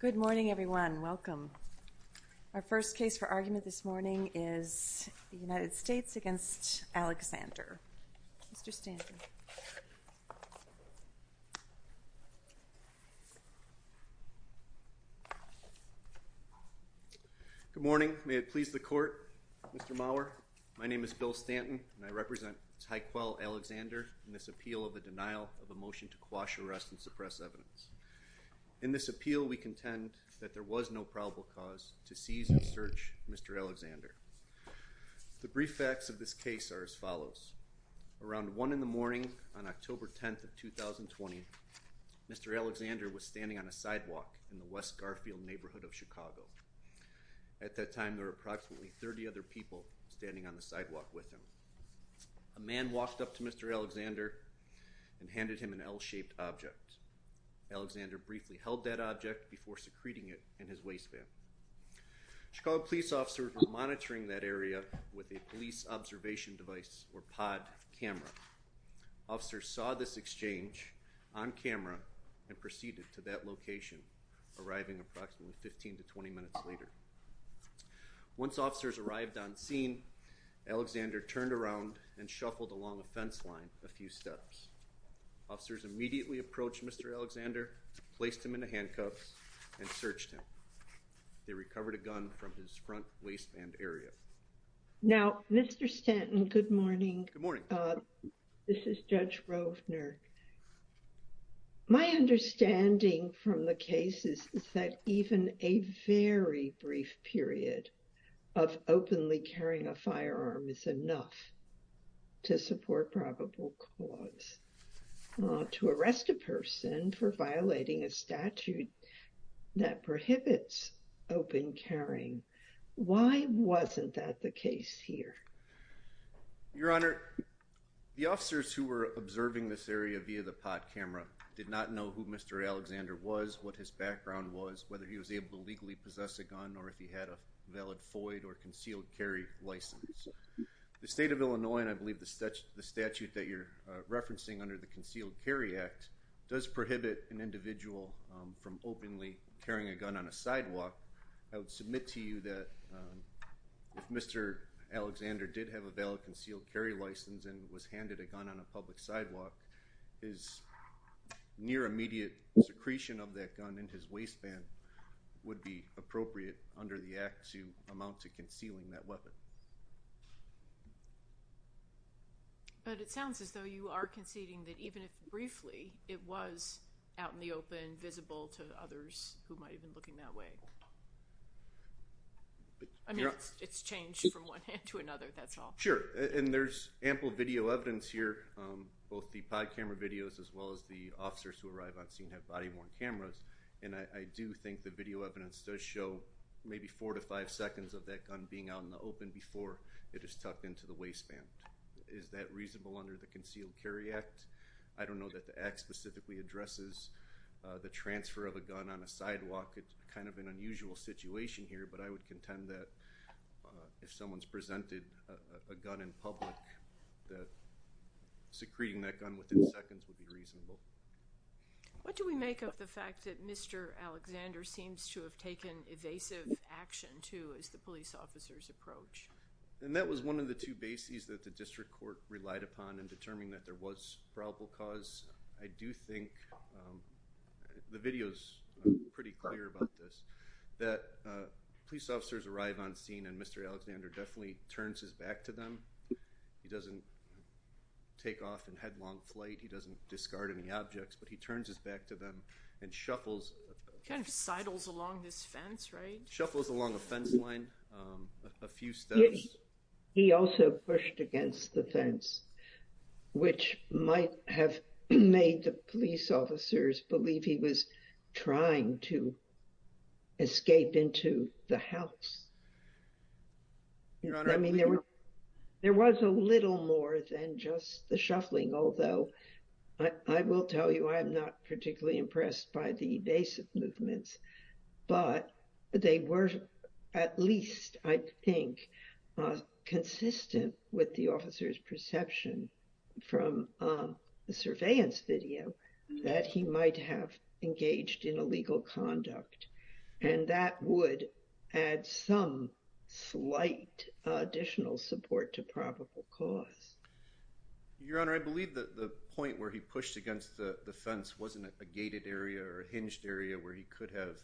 Good morning, everyone. Welcome. Our first case for argument this morning is the United States v. Alexander. Mr. Stanton. Good morning. May it please the Court, Mr. Maurer. My name is Bill Stanton, and I represent Tyquell Alexander in this appeal of the denial of a motion to quash arrest and suppress evidence. In this appeal, we contend that there was no probable cause to seize and search Mr. Alexander. The brief facts of this case are as follows. Around one in the morning on October 10th of 2020, Mr. Alexander was standing on a sidewalk in the West Garfield neighborhood of Chicago. At that time, there were approximately 30 other people standing on the sidewalk with him. A man walked up to Mr. Alexander and handed him an L-shaped object. Alexander briefly held that object before secreting it in his waistband. Chicago police officers were monitoring that area with a police observation device or pod camera. Officers saw this exchange on camera and proceeded to that location, arriving approximately 15 to 20 minutes later. Once officers arrived on scene, Alexander turned around and shuffled along a fence line a few steps. Officers immediately approached Mr. Alexander, placed him in the handcuffs, and searched him. They recovered a gun from his front waistband area. Now, Mr. Stanton, Good morning. This is Judge Rovner. My understanding from the case is that even a very brief period of openly carrying a firearm is enough to support probable cause. To arrest a person for violating a statute that prohibits open carrying, why wasn't that the case here? Your Honor, the officers who were observing this area via the pod camera did not know who Mr. Alexander was, what his background was, whether he was able to legally possess a gun, or if he had a valid FOID or concealed carry license. The state of Illinois, and I believe the statute that you're referencing under the Concealed Carry Act, does prohibit an individual from openly carrying a gun on a sidewalk. I would submit to you that if Mr. Alexander did have a valid concealed carry license and was handed a gun on a public sidewalk, his near immediate secretion of that gun in his waistband would be appropriate under the act to amount to concealing that weapon. But it sounds as though you are conceding that even if briefly it was out in the open, invisible to others who might have been looking that way. I mean, it's changed from one hand to another, that's all. Sure, and there's ample video evidence here, both the pod camera videos as well as the officers who arrive on scene have body-worn cameras, and I do think the video evidence does show maybe four to five seconds of that gun being out in the open before it is tucked into the waistband. Is that reasonable under the Concealed Carry Act? I don't know that the act specifically addresses the transfer of a gun on a sidewalk, it's kind of an unusual situation here, but I would contend that if someone's presented a gun in public, that secreting that gun within seconds would be reasonable. What do we make of the fact that Mr. Alexander seems to have taken evasive action too as the police officers approach? And that was one of the two bases that the district court relied upon in determining that there was probable cause. I do think the video's pretty clear about this, that police officers arrive on scene and Mr. Alexander definitely turns his back to them. He doesn't take off in headlong flight, he doesn't discard any objects, but he turns his back to them and shuffles. Kind of sidles along this fence, right? Shuffles along a fence line a few steps. He also pushed against the fence, which might have made the police officers believe he was trying to escape into the house. There was a little more than just the shuffling, although I will tell you I am not particularly impressed by the evasive movements, but they were at least, I think, consistent with the officer's perception from the surveillance video that he might have engaged in illegal conduct. And that would add some slight additional support to probable cause. Your Honor, I believe that the point where he pushed against the fence wasn't a gated area or a hinged area where he could have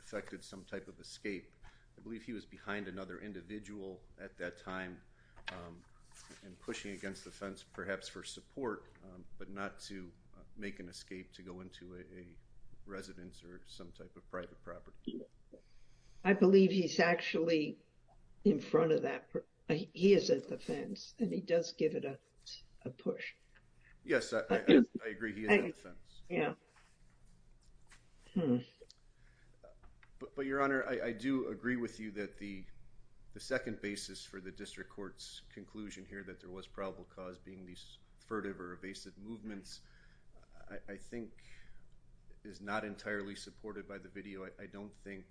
affected some type of escape. I believe he was behind another individual at that time and pushing against the fence perhaps for support, but not to make an escape to go into a residence or some type of private property. I believe he's actually in front of that. He is at the fence and he does give it a push. Yes, I agree he is at the fence. But Your Honor, I do agree with you that the second basis for the district court's conclusion here that there was probable cause being these furtive or evasive movements, I think, is not entirely supported by the video. I don't think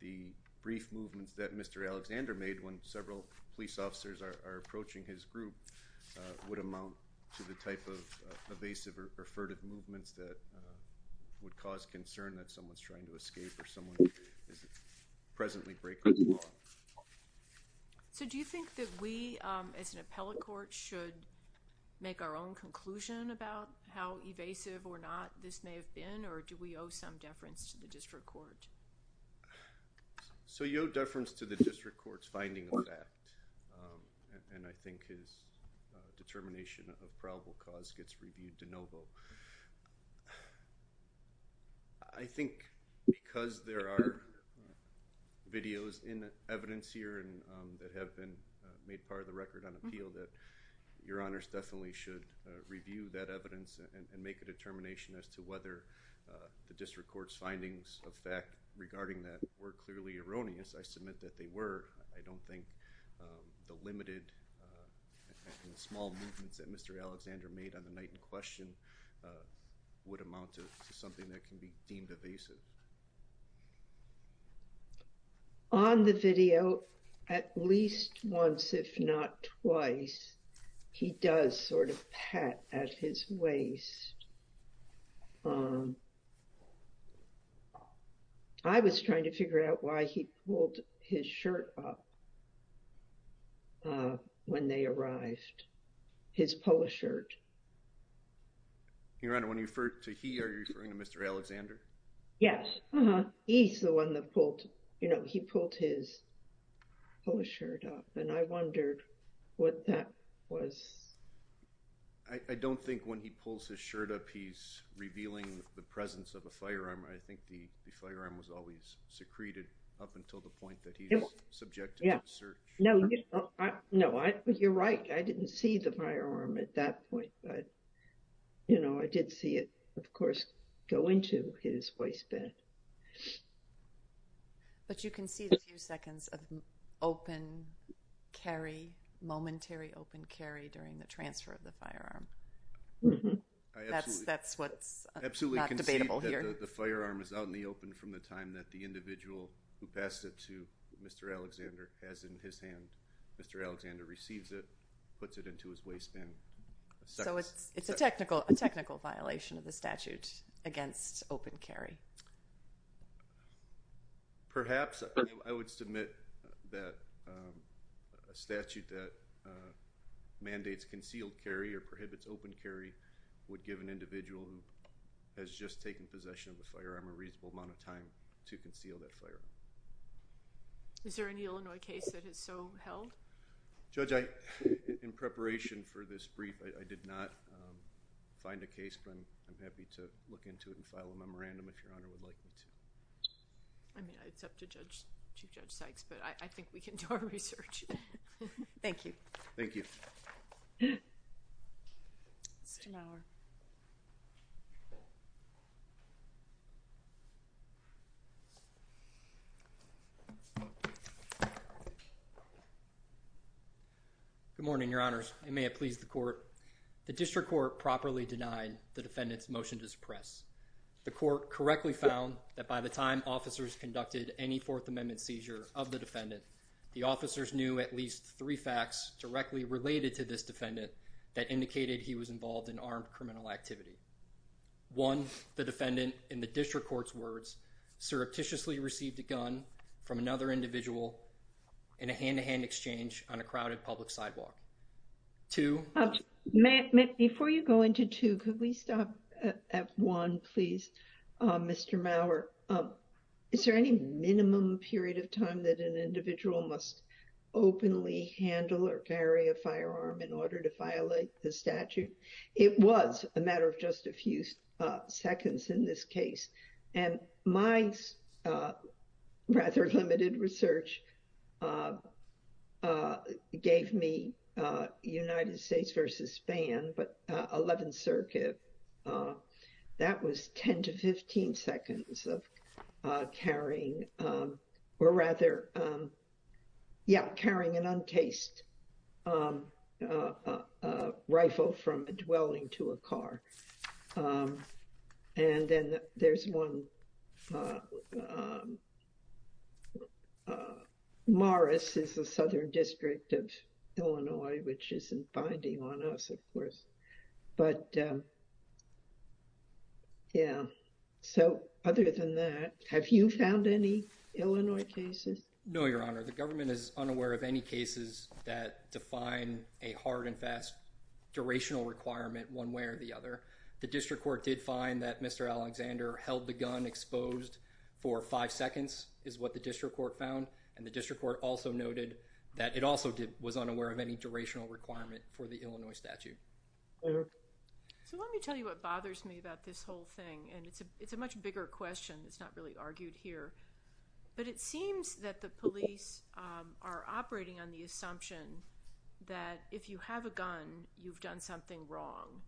the brief movements that Mr. Alexander made when several police officers are approaching his group would amount to the type of evasive or furtive movements that would cause concern that someone's trying to escape or someone is presently breaking the law. So do you think that we as an appellate court should make our own conclusion about how evasive or not this may have been or do we owe some deference to the district court? So you owe deference to the district court's finding of fact and I think his determination of probable cause gets reviewed de novo. I think because there are videos in evidence here that have been made part of the record on appeal that Your Honors definitely should review that evidence and make a determination as to whether the district court's findings of fact regarding that were clearly erroneous. I submit that they were. I don't think the limited and small movements that Mr. Alexander made on the night in question would amount to something that can be deemed evasive. On the video, at least once if not twice, he does sort of pat at his waist. I was trying to figure out why he pulled his shirt up when they arrived, his polo shirt. Your Honor, when you refer to he, are you referring to Mr. Alexander? Yes. He's the one that pulled, you know, he pulled his polo shirt up and I wondered what that was. I don't think when he pulls his shirt up, he's revealing the presence of a firearm. I think the firearm was always secreted up until the point that he's subject to search. No, you're right. I didn't see the firearm at that point but, you know, I did see it, of course, go into his waistband. But you can see the few seconds of open carry, momentary open carry during the transfer of the firearm. That's what's not debatable here. I absolutely concede that the firearm is out in the open from the time that the individual who passed it to Mr. Alexander has in his hand. Mr. Alexander receives it, puts it into his waistband. So it's a technical violation of the statute against open carry? Perhaps. I would submit that a statute that mandates concealed carry or prohibits open carry would give an individual who has just taken possession of the firearm a reasonable amount of time to conceal that firearm. Is there any Illinois case that has so held? Judge, in preparation for this brief, I did not find a case, but I'm happy to look into it and file a memorandum if Your Honor would like me to. I mean, it's up to Chief Judge Sykes, but I think we can do our research. Thank you. Thank you. Mr. Mauer. Good morning, Your Honors, and may it please the court. The district court properly denied the defendant's motion to suppress. The court correctly found that by the time officers conducted any Fourth Amendment seizure of the defendant, the officers knew at least three facts directly related to this defendant that indicated he was involved in armed criminal activity. One, the defendant, in the district court's words, surreptitiously received a gun from another individual in a hand-to-hand exchange on a crowded public sidewalk. Two. Before you go into two, could we stop at one, please, Mr. Mauer? Is there any minimum period of time that an individual must openly handle or carry a firearm in order to violate the statute? It was a matter of just a few seconds in this case, and my rather limited research gave me United States versus Spain, but 11th Circuit, that was 10 to 15 seconds of carrying, or rather, yeah, carrying an untaste rifle from a dwelling to a car. And then there's one Morris is the Southern District of Illinois, which isn't binding on us, of course, but yeah, so other than that, have you found any Illinois cases? No, Your Honor. The government is unaware of any cases that define a hard and fast durational requirement one way or the other. The district court did find that Mr. Alexander held the gun exposed for five seconds is what district court found, and the district court also noted that it also was unaware of any durational requirement for the Illinois statute. So let me tell you what bothers me about this whole thing, and it's a much bigger question. It's not really argued here, but it seems that the police are operating on the assumption that if you have a gun, you've done something wrong,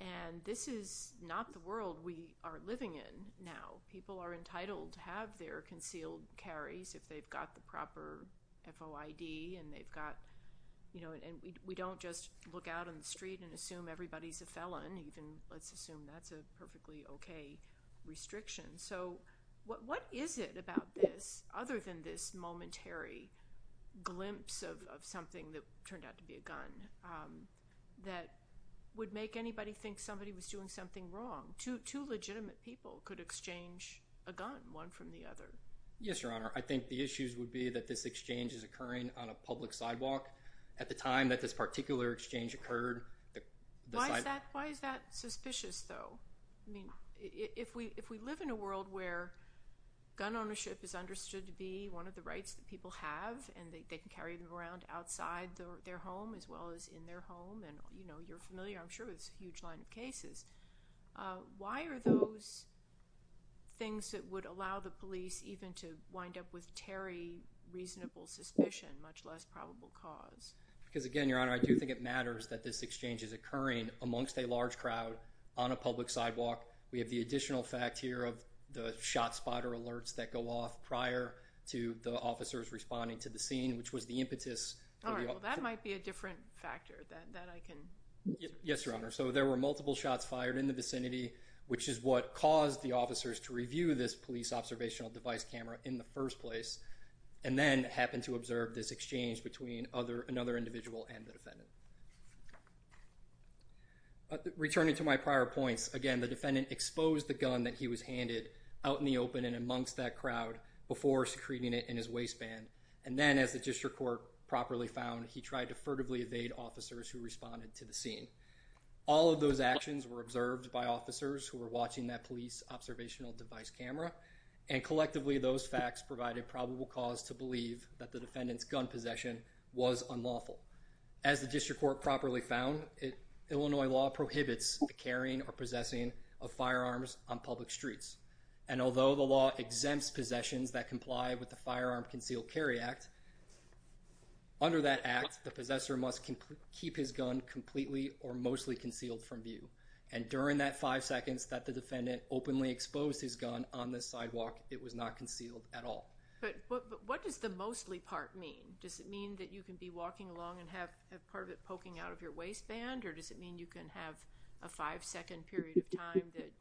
and this is not the world we are living in now. People are entitled to have their concealed carries if they've got the proper FOID and they've got, you know, and we don't just look out on the street and assume everybody's a felon, even let's assume that's a perfectly okay restriction. So what is it about this, other than this momentary glimpse of something that turned out to be a gun, that would make anybody think somebody was doing something wrong? Two legitimate people could exchange a gun, one from the other. Yes, Your Honor. I think the issues would be that this exchange is occurring on a public sidewalk at the time that this particular exchange occurred. Why is that suspicious though? I mean, if we live in a world where gun ownership is understood to be one of the rights that people have, and they can carry them around outside their home as well as in their home, and you know, you're familiar, I'm sure, with this huge line of cases. Why are those things that would allow the police even to wind up with tarry, reasonable suspicion, much less probable cause? Because again, Your Honor, I do think it matters that this exchange is occurring amongst a large crowd on a public sidewalk. We have the additional fact here of the shot spotter alerts that go off prior to the officers responding to the scene, which was the impetus. All right, well that might be a different factor that I can... Yes, Your Honor. So there were multiple shots fired in the vicinity, which is what caused the officers to review this police observational device camera in the first place, and then happened to observe this exchange between another individual and the defendant. Returning to my prior points, again, the defendant exposed the gun that he was handed out in the open and amongst that crowd before secreting it in his waistband, and then as the district court properly found, he tried to All of those actions were observed by officers who were watching that police observational device camera, and collectively those facts provided probable cause to believe that the defendant's gun possession was unlawful. As the district court properly found, Illinois law prohibits the carrying or possessing of firearms on public streets, and although the law exempts possessions that comply with the Firearm Concealed Carry Act, under that act, the possessor must keep his gun completely or mostly concealed from view, and during that five seconds that the defendant openly exposed his gun on the sidewalk, it was not concealed at all. But what does the mostly part mean? Does it mean that you can be walking along and have part of it poking out of your waistband, or does it mean you can have a five-second period of time that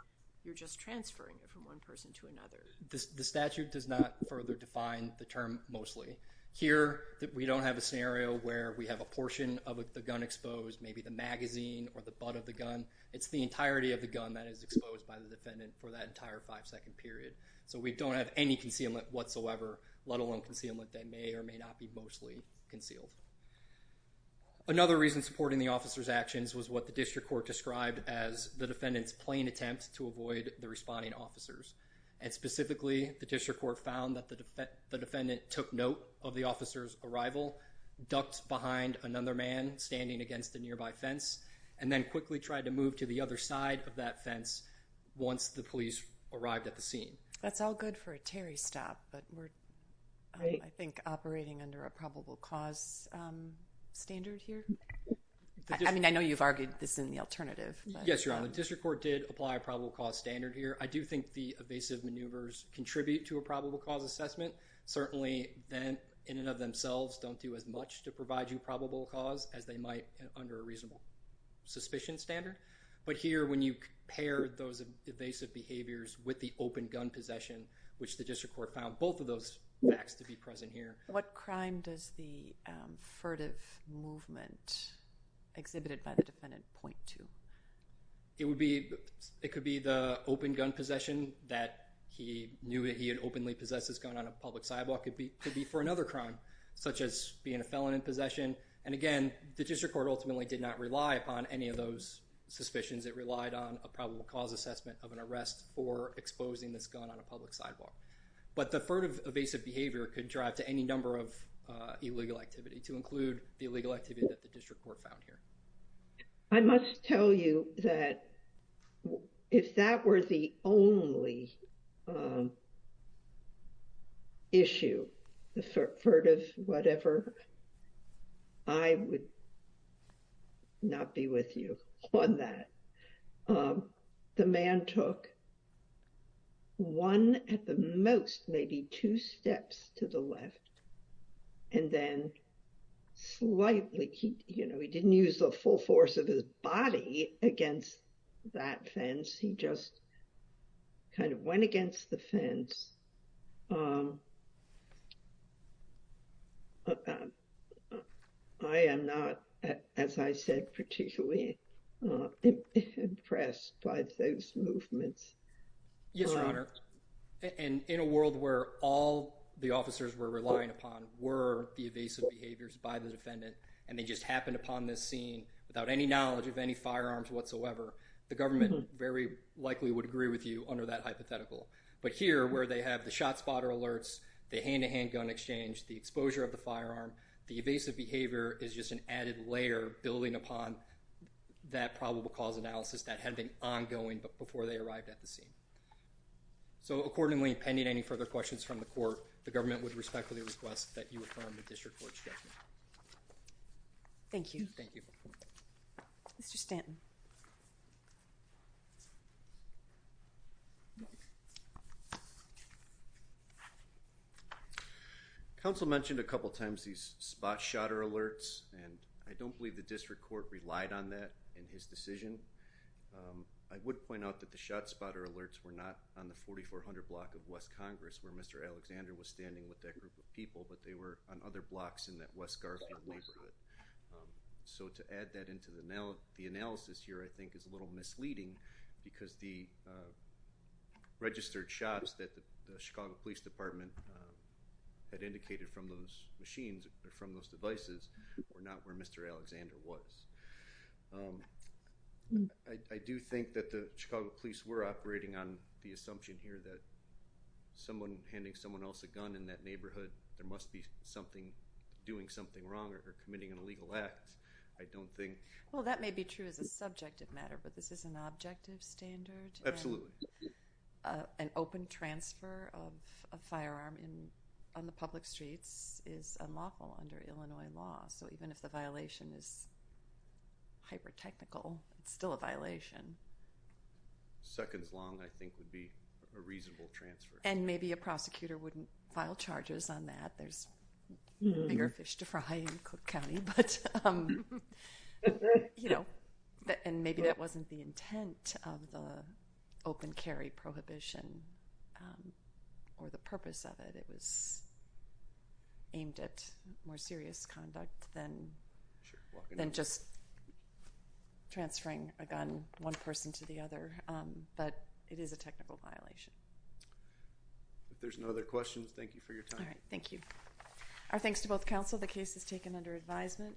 you're just transferring it from one person to another? The statute does not further define the term mostly. Here, we don't have a scenario where we have a portion of the gun exposed, maybe the magazine or the butt of the gun. It's the entirety of the gun that is exposed by the defendant for that entire five-second period. So we don't have any concealment whatsoever, let alone concealment that may or may not be mostly concealed. Another reason supporting the officer's actions was what the district court described as the district court found that the defendant took note of the officer's arrival, ducked behind another man standing against the nearby fence, and then quickly tried to move to the other side of that fence once the police arrived at the scene. That's all good for a Terry stop, but we're, I think, operating under a probable cause standard here. I mean, I know you've argued this in the alternative. Yes, Your Honor. The district court did apply a probable cause standard here. I do think the evasive maneuvers contribute to a probable cause assessment. Certainly, then, in and of themselves, don't do as much to provide you probable cause as they might under a reasonable suspicion standard. But here, when you pair those evasive behaviors with the open gun possession, which the district court found both of those facts to be present here. What crime does the furtive movement exhibited by the defendant point to? It would be, it could be the open gun possession that he knew that he had openly possessed this gun on a public sidewalk. It could be for another crime, such as being a felon in possession. And again, the district court ultimately did not rely upon any of those suspicions. It relied on a probable cause assessment of an arrest for exposing this gun on a public sidewalk. But the furtive evasive behavior could drive to any number of illegal activity, to include the illegal activity that the district court found here. I must tell you that if that were the only issue, the furtive whatever, I would not be with you on that. The man took one at the most, maybe two steps to the left. And then slightly, you know, he didn't use the full force of his body against that fence. He just kind of went against the fence. I am not, as I said, particularly impressed by those movements. Yes, Your Honor. And in a world where all the officers were relying upon were the evasive behaviors by the defendant, and they just happened upon this scene without any knowledge of any firearms whatsoever, the government very likely would agree with you under that hypothetical. But here, where they have the shot spotter alerts, the hand-to-hand gun exchange, the exposure of the firearm, the evasive behavior is just an added layer building upon that probable cause analysis that had been ongoing before they arrived at the scene. So accordingly, pending any further questions from the court, the government would respectfully request that you affirm the district court's judgment. Thank you. Thank you. Mr. Stanton. The council mentioned a couple times these spot shotter alerts, and I don't believe the district court relied on that in his decision. I would point out that the shot spotter alerts were not on the 4400 block of West Congress where Mr. Alexander was standing with that group of people, but they were on other blocks in that West Garfield neighborhood. So to add that into the analysis here I think is a little misleading because the registered shots that the Chicago Police Department had indicated from those machines or from those devices were not where Mr. Alexander was. I do think that the Chicago Police were operating on the assumption here that someone handing someone else a gun in that neighborhood, there must be something doing wrong or committing an illegal act. I don't think. Well, that may be true as a subjective matter, but this is an objective standard. Absolutely. An open transfer of a firearm on the public streets is unlawful under Illinois law. So even if the violation is hyper technical, it's still a violation. Seconds long I think would be a reasonable transfer. And I'm sorry for Hyatt County, but you know, and maybe that wasn't the intent of the open carry prohibition or the purpose of it. It was aimed at more serious conduct than just transferring a gun one person to the other, but it is a technical violation. If there's no other questions, thank you for your time. All right. Thank you. Our thanks to both counsel. The case is taken under advisement.